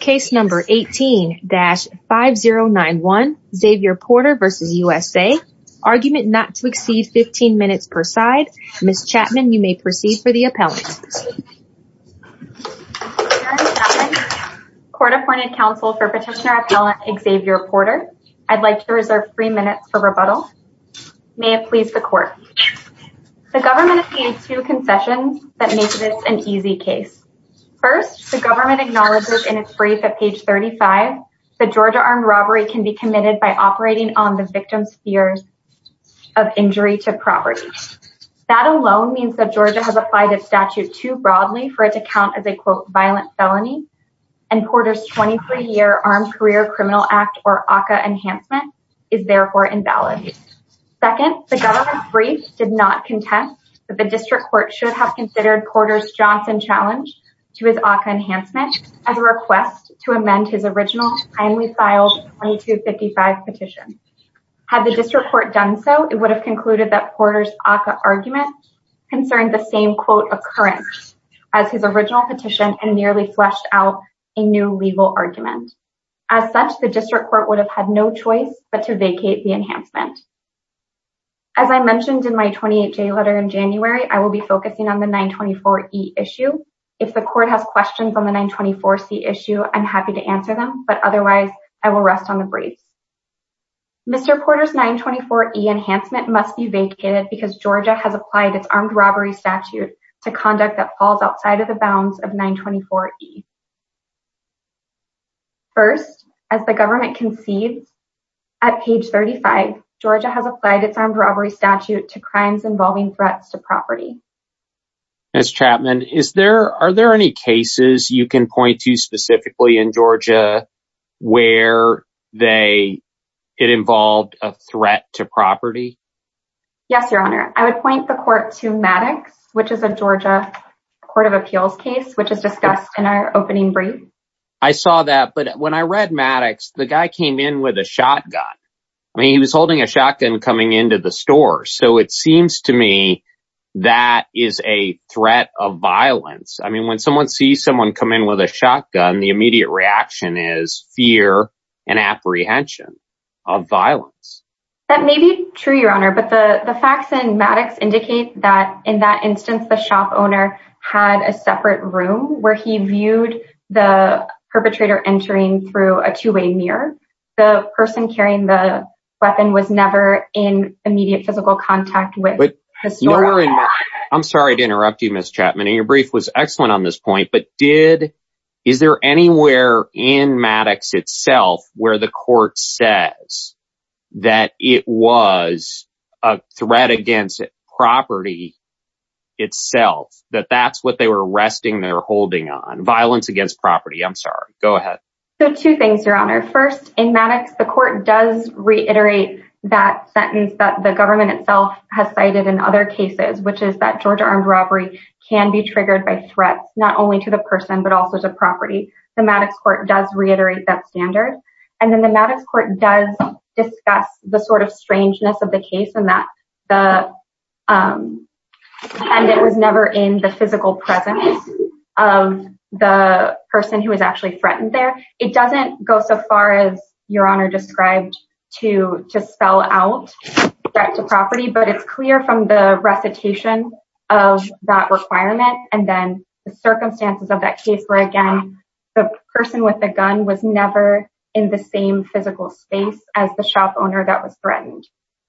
Case No. 18-5091 Xavier Porter v. U.S.A., argument not to exceed 15 minutes per side. Ms. Chapman, you may proceed for the appellant. Karen Chapman, Court-Appointed Counsel for Petitioner Appellant Xavier Porter. I'd like to reserve three minutes for rebuttal. May it please the Court. The government obtained two concessions that make this an easy case. First, the government acknowledges in its brief at page 35 that Georgia armed robbery can be committed by operating on the victim's fears of injury to property. That alone means that Georgia has applied a statute too broadly for it to count as a violent felony, and Porter's 23-year Armed Career Criminal Act, or ACCA, enhancement is therefore invalid. Second, the government's brief did not contest that the district court should have considered Porter's Johnson challenge to his ACCA enhancement as a request to amend his original, kindly filed 2255 petition. Had the district court done so, it would have concluded that Porter's ACCA argument concerned the same quote occurrence as his original petition and nearly fleshed out a new legal argument. As such, the district court would have had no choice but to vacate the enhancement. As I mentioned in my 28-J letter in January, I will be focusing on the 924E issue. If the court has questions on the 924C issue, I'm happy to answer them, but otherwise, I will rest on the briefs. Mr. Porter's 924E enhancement must be vacated because Georgia has applied its armed robbery statute to conduct that falls outside of the bounds of 924E. First, as the government concedes, at page 35, Georgia has applied its armed robbery statute to crimes involving threats to property. Ms. Chapman, are there any cases you can point to specifically in Georgia where it involved a threat to property? Yes, Your Honor. I would point the court to Maddox, which is a Georgia court of appeals case, which is I saw that, but when I read Maddox, the guy came in with a shotgun. I mean, he was holding a shotgun coming into the store. So it seems to me that is a threat of violence. I mean, when someone sees someone come in with a shotgun, the immediate reaction is fear and apprehension of violence. That may be true, Your Honor, but the facts in Maddox indicate that in that instance, the shop owner had a separate room where he viewed the perpetrator entering through a two-way mirror. The person carrying the weapon was never in immediate physical contact with the store. I'm sorry to interrupt you, Ms. Chapman, and your brief was excellent on this point, but is there anywhere in Maddox itself where the court says that it was a threat against property itself, that that's what they were arresting their holding on, violence against property? I'm sorry. Go ahead. So two things, Your Honor. First, in Maddox, the court does reiterate that sentence that the government itself has cited in other cases, which is that Georgia armed robbery can be triggered by threats, not only to the person, but also to property. The Maddox court does reiterate that standard. And then the Maddox court does discuss the sort of strangeness of the case and that it was never in the physical presence of the person who was actually threatened there. It doesn't go so far as Your Honor described to spell out threat to property, but it's clear from the recitation of that requirement and then the circumstances of that case where, the person with the gun was never in the same physical space as the shop owner that was threatened.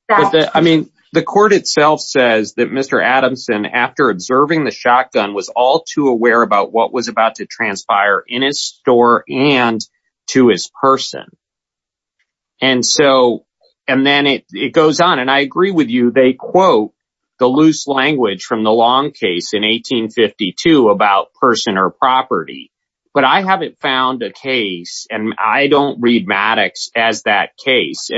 I mean, the court itself says that Mr. Adamson, after observing the shotgun, was all too aware about what was about to transpire in his store and to his person. And so, and then it goes on, and I agree with you. They quote the loose language from the long case in 1852 about person or property, but I haven't found a case, and I don't read Maddox as that case,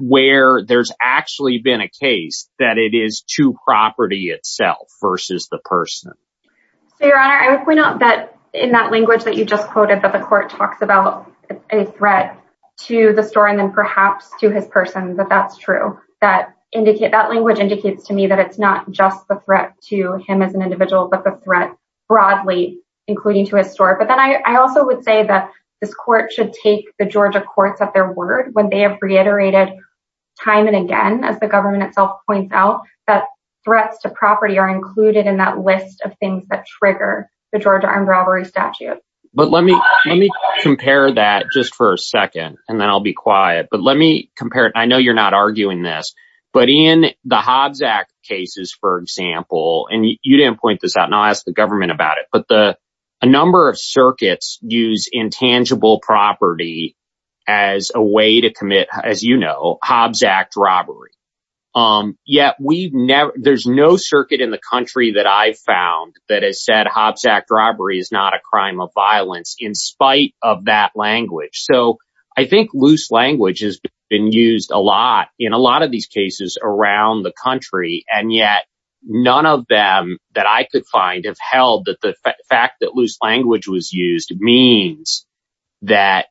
where there's actually been a case that it is to property itself versus the person. So, Your Honor, I would point out that in that language that you just quoted, that the court talks about a threat to the store and then perhaps to his person, that that's true. That language indicates to me that it's not just the threat to him as an individual, but the threat broadly, including to his store. But then I also would say that this court should take the Georgia courts at their word when they have reiterated time and again, as the government itself points out, that threats to property are included in that list of things that trigger the Georgia armed robbery statute. But let me compare that just for a second, and then I'll be quiet. But let me compare it. I know you're not arguing this, but in the Hobbs Act cases, for example, and you didn't point this out, and I'll ask the government about it, but a number of circuits use intangible property as a way to commit, as you know, Hobbs Act robbery. Yet there's no circuit in the country that I've found that has said Hobbs Act robbery is not a crime of violence in spite of that language. So I think loose language has been used a lot in a lot of these cases around the country. And yet none of them that I could find have held that the fact that loose language was used means that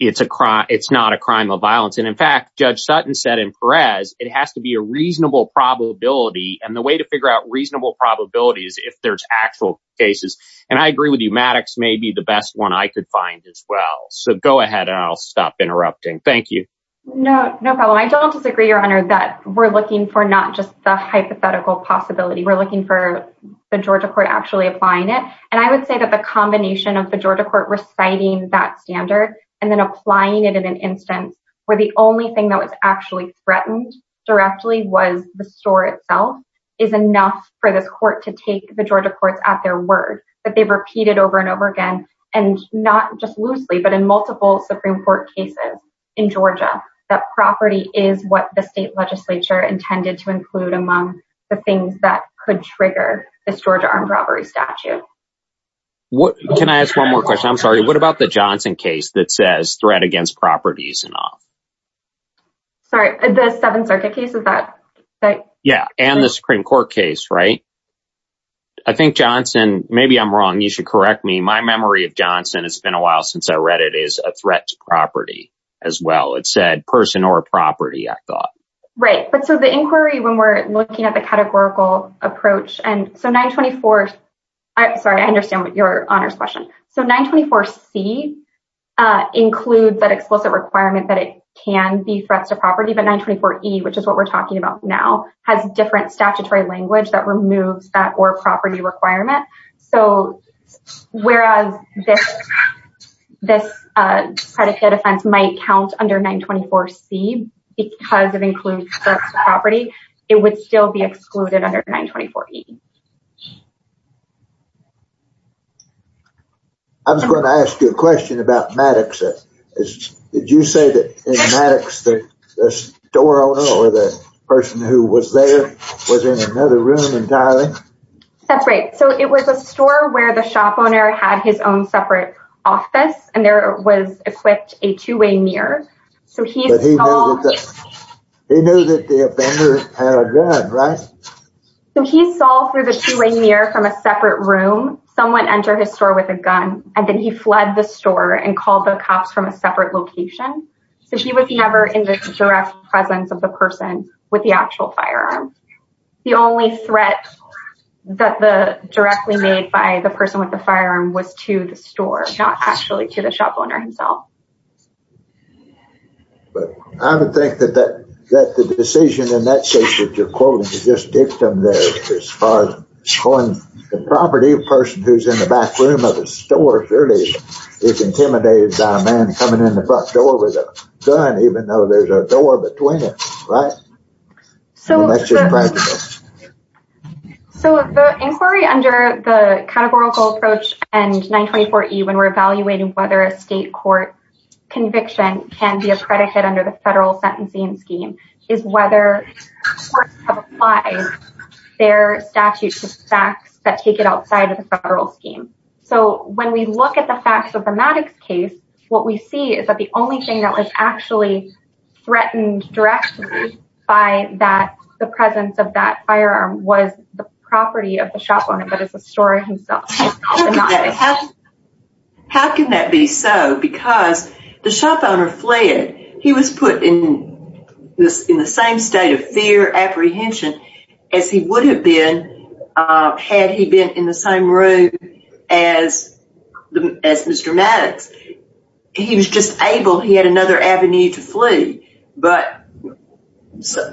it's not a crime of violence. And in fact, Judge Sutton said in Perez, it has to be a reasonable probability. And the way to figure out reasonable probability is if there's actual cases. And I agree with you. Maddox may be the best one I could find as well. So go ahead and I'll stop interrupting. Thank you. No, no problem. I don't disagree, Your Honor, that we're looking for not just the hypothetical possibility. We're looking for the Georgia court actually applying it. And I would say that the combination of the Georgia court reciting that standard and then applying it in an instance where the only thing that was actually threatened directly was the store itself is enough for this court to take the Georgia courts at their word that they've repeated over and over again. And not just loosely, but in multiple Supreme Court cases in Georgia, that property is what the state legislature intended to include among the things that could trigger this Georgia armed robbery statute. Can I ask one more question? I'm sorry. What about the Johnson case that says threat against properties and all? Sorry, the Seventh Circuit case, is that right? Yeah. And the Supreme Court case, right? I think Johnson, maybe I'm wrong. You should correct me. My memory of Johnson, it's been a while since I read it, is a threat to property as well. It said person or property, I thought. Right. But so the inquiry, when we're looking at the categorical approach and so 924, I'm sorry, I understand what your Honor's question. So 924C includes that explicit requirement that it can be threats to property, but 924E, which is what we're talking about now, has different statutory language that removes that or property requirement. So whereas this predicate offense might count under 924C because it includes threats to property, it would still be excluded under 924E. I was going to ask you a question about Maddox. Did you say that in Maddox, the store owner or the person who was there was in another room entirely? That's right. So it was a store where the shop owner had his own separate office, and there was equipped a two-way mirror. He knew that the offender had a gun, right? So he saw through the two-way mirror from a separate room. Someone entered his store with a gun, and then he fled the store and called the cops from a separate location. So he was never in the direct presence of the person with the actual firearm. The only threat that the directly made by the person with the firearm was to the store, not actually to the shop owner himself. But I would think that the decision in that case that you're quoting, you just take them as far as the property person who's in the back room of the store, surely is intimidated by a man coming in the front door with a gun, even though there's a door between it, right? So the inquiry under the categorical approach and 924E, when we're evaluating whether a state court conviction can be a predicate under the federal sentencing scheme, is whether courts have applied their statute to facts that take it outside of the federal scheme. So when we look at the facts of the Maddox case, what we see is that the only thing that was actually threatened directly by the presence of that firearm was the property of the shop owner, but it's the store himself. How can that be so? Because the shop owner fled. He was put in the same state of fear, apprehension, as he would have been had he been in the same room as Mr. Maddox. He was just able, he had another avenue to flee. But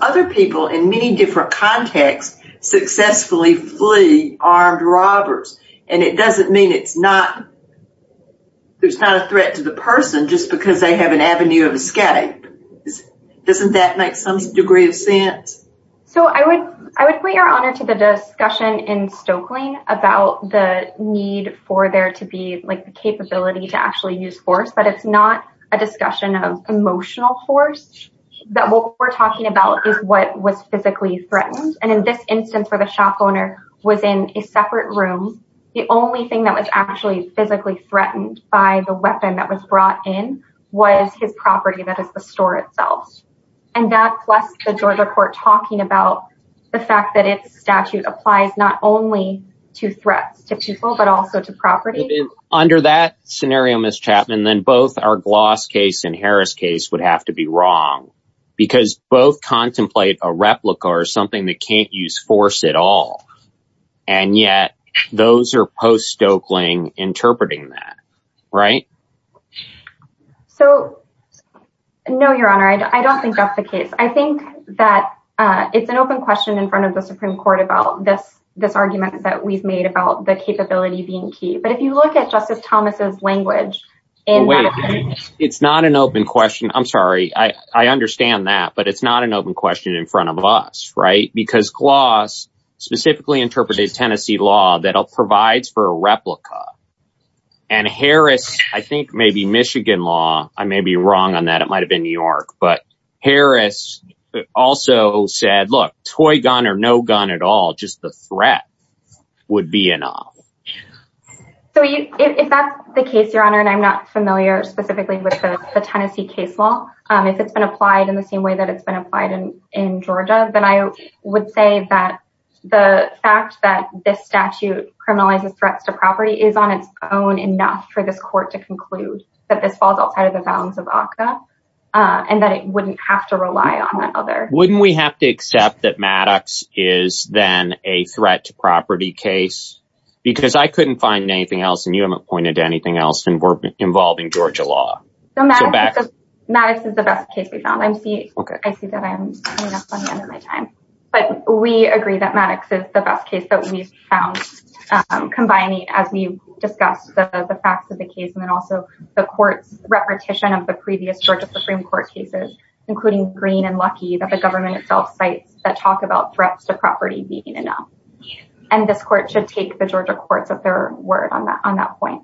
other people in many different contexts successfully flee armed robbers, and it doesn't mean it's not, there's not a threat to the person just because they have an avenue of escape. Doesn't that make some degree of sense? So I would point your honor to the discussion in Stokely about the need for there to be like the capability to actually use force, but it's not a discussion of emotional force, that what we're talking about is what was physically threatened. And in this instance where the shop owner was in a separate room, the only thing that was actually physically threatened by the weapon that was brought in was his property that is the store itself. And that plus the Georgia court talking about the fact that its statute applies not only to threats to people, but also to property. Under that scenario, Ms. Chapman, then both our Gloss case and Harris case would have to be wrong because both contemplate a replica or something that can't use force at all. And yet, those are post-Stokeling interpreting that, right? So, no, your honor, I don't think that's the case. I think that it's an open question in front of the Supreme Court about this argument that we've made about the capability being key. But if you look at Justice Thomas's language in- It's not an open question. I'm sorry. I understand that. But it's not an open question in front of us, right? Because Gloss specifically interprets a Tennessee law that provides for a replica. And Harris, I think maybe Michigan law, I may be wrong on that. It might have been New York. But Harris also said, look, toy gun or no gun at all, just the threat would be enough. So, if that's the case, your honor, and I'm not familiar specifically with the Tennessee case law, if it's been applied in the same way that it's been applied in Georgia, then I would say that the fact that this statute criminalizes threats to property is on its own enough for this court to conclude that this falls outside of the bounds of ACCA and that it wouldn't have to rely on that other- Wouldn't we have to accept that Maddox is then a threat to property case? Because I couldn't find anything else, and you haven't pointed to anything else involving Georgia law. Maddox is the best case we found. I see that I'm coming up on the end of my time. But we agree that Maddox is the best case that we've found, combining, as we discussed, the facts of the case and then also the court's repetition of sites that talk about threats to property being enough. And this court should take the Georgia courts at their word on that point.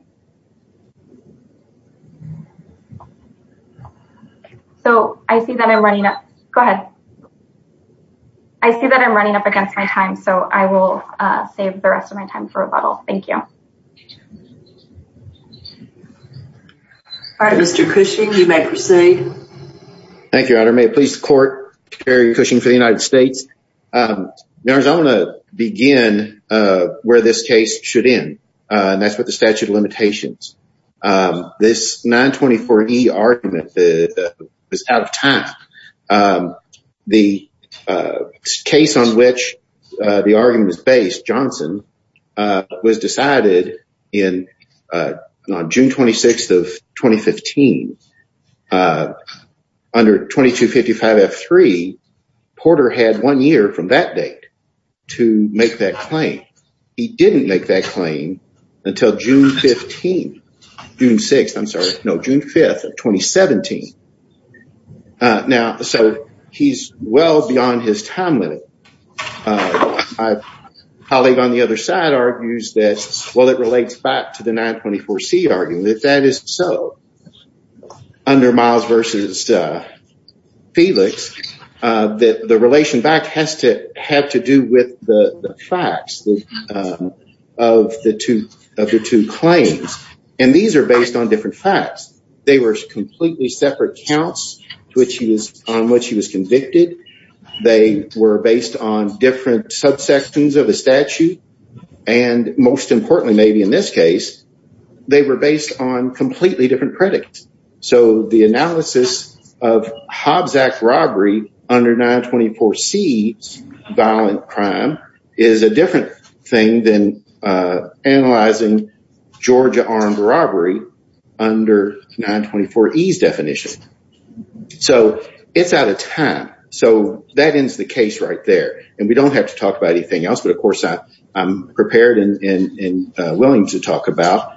So, I see that I'm running up- Go ahead. I see that I'm running up against my time. So, I will save the rest of my time for rebuttal. Thank you. Mr. Cushing, you may proceed. Thank you, Your Honor. May it please the court, Terry Cushing for the United States. Your Honor, I want to begin where this case should end, and that's with the statute of limitations. This 924E argument was out of time. The case on which the argument was based, Johnson, was decided on June 26th of 2015 under 2255F3. Porter had one year from that date to make that claim. He didn't make that claim until June 15th- June 6th, I'm sorry. No, June 5th of 2017. Now, so he's well beyond his time limit. My colleague on the other side argues that, well, it relates back to the 924C argument. That is so. Under Miles v. Felix, the relation back has to have to do with the facts of the two claims. And these are based on different facts. They were completely separate counts on which he was convicted. They were based on different subsections of the statute. And most importantly, maybe in this case, they were based on completely different predicates. So the analysis of Hobbs Act robbery under 924C violent crime is a different thing than analyzing Georgia armed robbery under 924E's definition. So it's out of time. So that ends the case right there. And we don't have to talk about anything else. Of course, I'm prepared and willing to talk about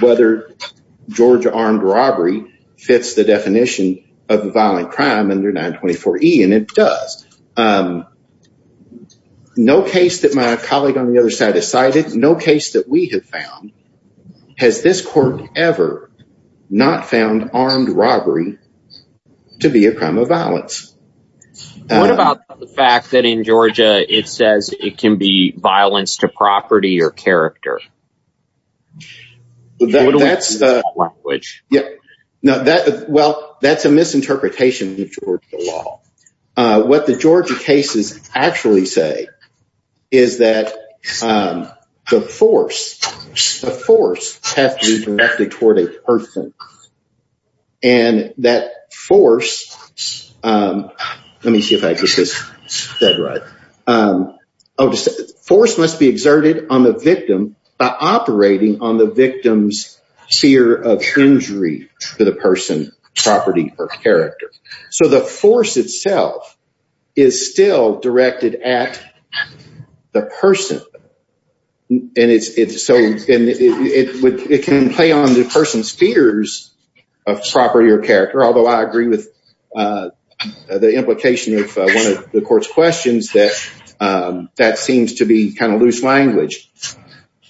whether Georgia armed robbery fits the definition of a violent crime under 924E, and it does. No case that my colleague on the other side has cited, no case that we have found, has this court ever not found armed robbery to be a crime of violence. What about the fact that in Georgia, it says it can be violence to property or character? Well, that's a misinterpretation of the Georgia law. What the Georgia cases actually say is that the force has to be directed toward a person. And that force, let me see if I get this said right, force must be exerted on the victim by operating on the victim's fear of injury to the person, property, or character. So the force itself is still directed at the person. And it can play on the person's fears of property or character, although I agree with the implication of one of the court's questions that that seems to be kind of loose language.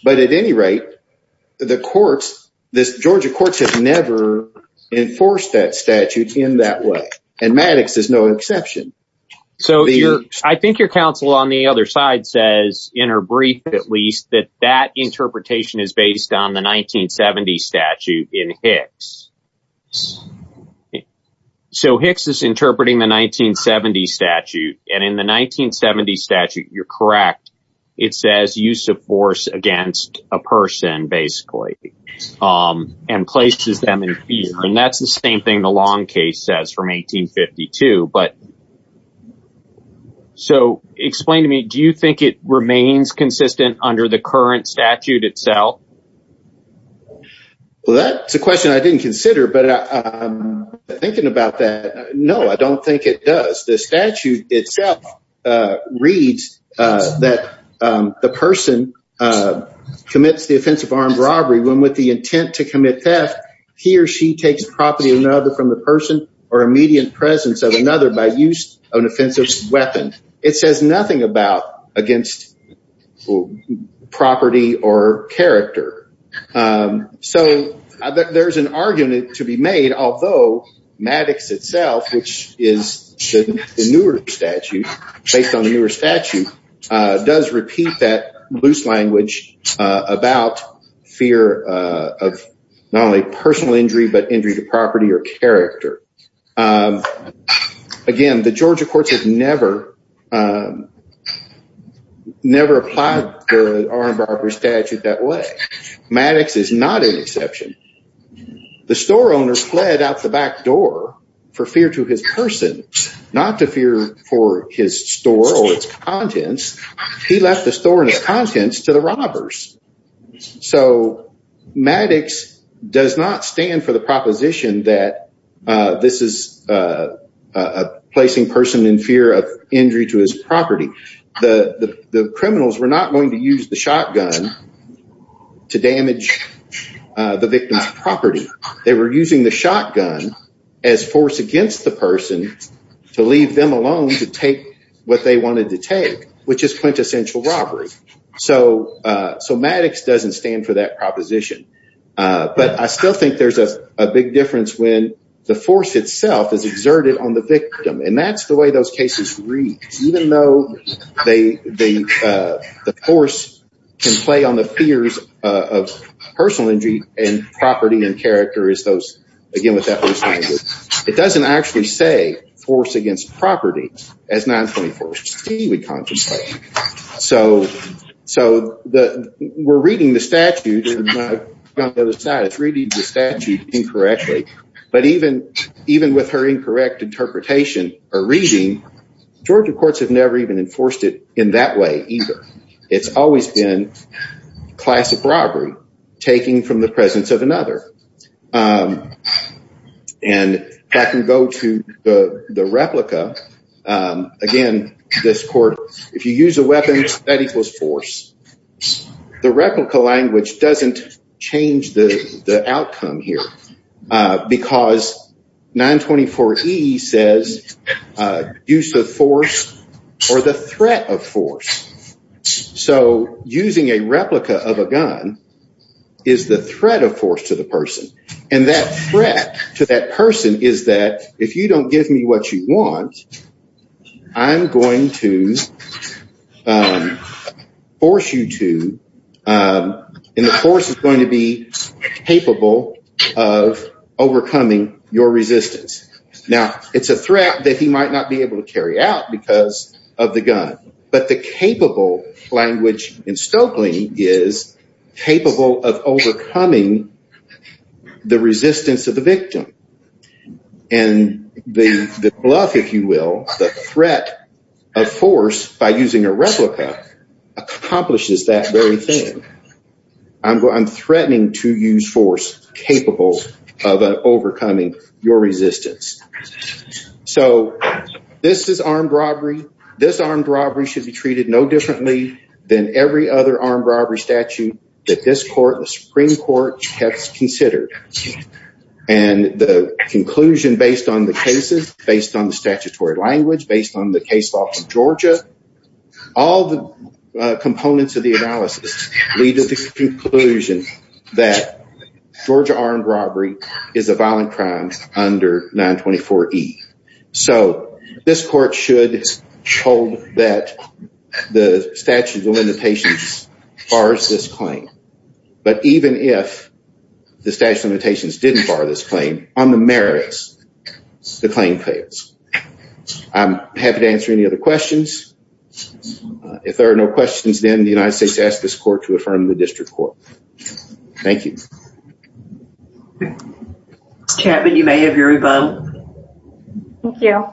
But at any rate, the courts, the Georgia courts have never enforced that statute in that way. And Maddox is no exception. So I think your counsel on the other side says, in her brief at least, that that interpretation is based on the 1970 statute in Hicks. So Hicks is interpreting the 1970 statute. And in the 1970 statute, you're correct. It says use of force against a person, basically, and places them in fear. And that's the same thing the Long case says from 1852. But so explain to me, do you think it remains consistent under the current statute itself? Well, that's a question I didn't consider, but I'm thinking about that. No, I don't think it does. The statute itself reads that the person commits the offense of armed robbery, when with the intent to commit theft, he or she takes property of another from the person or immediate presence of another by use of an offensive weapon. It says nothing about against property or character. So there's an argument to be made, although Maddox itself, which is the newer statute, based on the newer statute, does repeat that loose language about fear of not only personal injury, but injury to property or character. Again, the Georgia courts have never applied the armed robbery statute that way. Maddox is not an exception. The store owners fled out the back door for fear to his person, not to fear for his store or its contents. He left the store and its contents to the robbers. So Maddox does not stand for the proposition that this is a placing person in fear of injury to his property. The criminals were not going to use the shotgun to damage the victim's property. They were using the shotgun as force against the person to leave them alone to take what they wanted to take, which is quintessential robbery. So Maddox doesn't stand for that proposition. But I still think there's a big difference when the force itself is exerted on the victim. And that's the way those cases read, even though the force can play on the fears of personal injury and property and character is those, again, with that loose language. It doesn't actually say force against property as 924C would contemplate. So we're reading the statute on the other side. It's reading the statute incorrectly. But even with her incorrect interpretation or reading, Georgia courts have never even enforced it in that way either. It's always been classic robbery, taking from the presence of another. And I can go to the replica. Again, this court, if you use a weapon, that equals force. The replica language doesn't change the outcome here because 924E says use of force or the threat of force. So using a replica of a gun is the threat of force to the person. And that threat to that person is that if you don't give me what you want, I'm going to force you to and the force is going to be capable of overcoming your resistance. Now, it's a threat that he might not be able to carry out because of the gun. But the capable language in Stokely is capable of overcoming the resistance of the victim. And the bluff, if you will, the threat of force by using a replica accomplishes that very thing. I'm threatening to use force capable of overcoming your resistance. So this is armed robbery. This armed robbery should be treated no differently than every other armed robbery statute that this court, the Supreme Court, has considered. And the conclusion based on the cases, based on the statutory language, based on the case law from Georgia, all the components of the analysis lead to the conclusion that Georgia armed robbery is a violent crime under 924E. So this court should hold that the statute of limitations bars this claim. But even if the statute of limitations didn't bar this claim, on the merits, the claim fails. I'm happy to answer any other questions. If there are no questions, then the United States asks this court to affirm the district court. Thank you. Chapman, you may have your rebuttal. Thank you.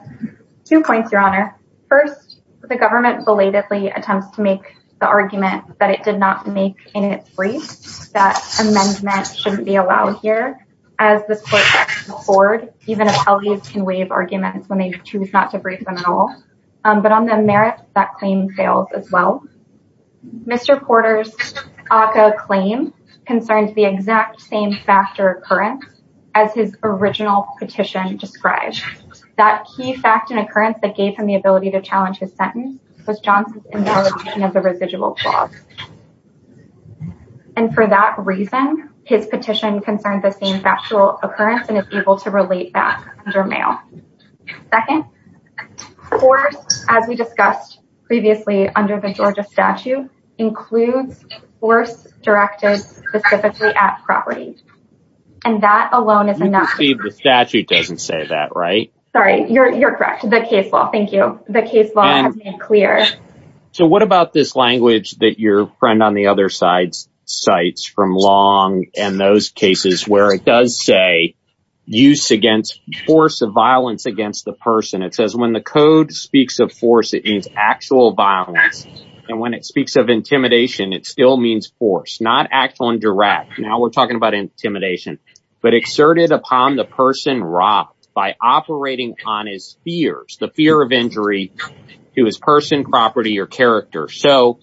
Two points, Your Honor. First, the government belatedly attempts to make the argument that it did not make in its brief that amendment shouldn't be allowed here, as this court can afford, even if alleges can waive arguments when they choose not to brief them at all. But on the merits, that claim fails as well. Mr. Porter's ACCA claim concerns the exact same factor occurrence as his original petition describes. That key fact and occurrence that gave him the ability to challenge his sentence was Johnson's invalidation of the residual clause. And for that reason, his petition concerns the same factual occurrence and is able to relate that under mail. Second, force, as we discussed previously under the Georgia statute, includes force directed specifically at property. And that alone is enough. The statute doesn't say that, right? Sorry, you're correct. The case law. Thank you. The case law has been clear. So what about this language that your friend on the other side cites from Long and those cases where it does say use against force of violence against the person? It says when the code speaks of force, it means actual violence. And when it speaks of intimidation, it still means force, not act on direct. Now we're talking about intimidation, but exerted upon the person robbed by operating on his fears, the fear of injury to his person, property or character. So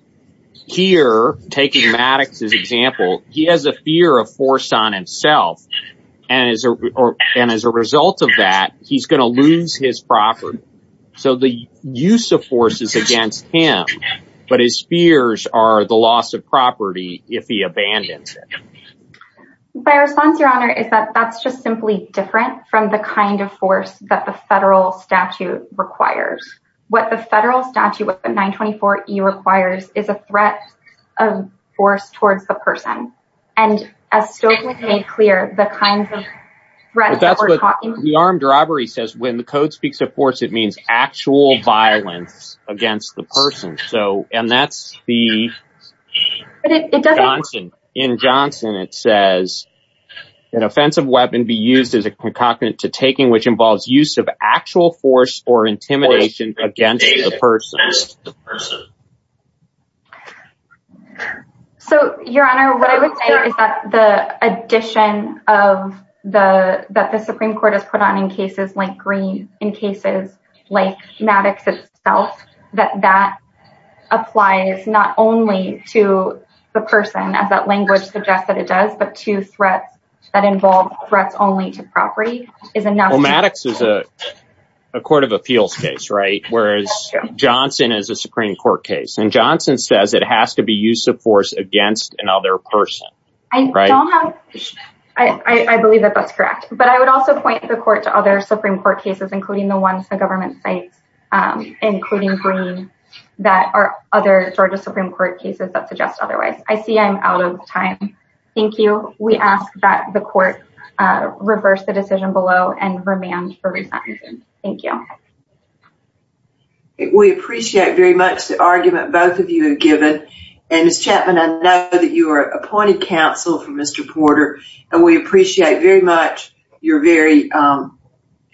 here, taking Maddox's example, he has a fear of force on himself and as a result of that, he's going to lose his property. So the use of force is against him. But his fears are the loss of property if he abandons it. My response, Your Honor, is that that's just simply different from the kind of force that the federal statute requires. What the federal statute with the 924E requires is a threat of force towards the person. And as Stokely made clear, the kinds of threats that we're talking about. The armed robbery says when the code speaks of force, it means actual violence against the person. And that's the Johnson. In Johnson, it says an offensive weapon be used as a concocted to taking which involves use of actual force or intimidation against the person. So, Your Honor, what I would say is that the addition that the Supreme Court has put on cases like Green, in cases like Maddox itself, that that applies not only to the person, as that language suggests that it does, but to threats that involve threats only to property. Maddox is a court of appeals case, right? Whereas Johnson is a Supreme Court case. And Johnson says it has to be use of force against another person. I believe that that's correct. But I would also point the court to other Supreme Court cases, including the ones the government states, including Green, that are other Georgia Supreme Court cases that suggest otherwise. I see I'm out of time. Thank you. We ask that the court reverse the decision below and remand for re-sentencing. Thank you. We appreciate very much the argument both of you have given. And Ms. Chapman, I know that you are appointed counsel for Mr. Porter. And we appreciate very much your very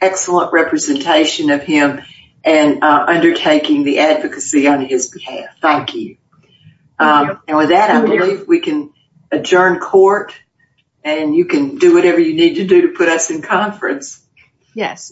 excellent representation of him and undertaking the advocacy on his behalf. Thank you. And with that, I believe we can adjourn court. And you can do whatever you need to do to put us in conference. Yes.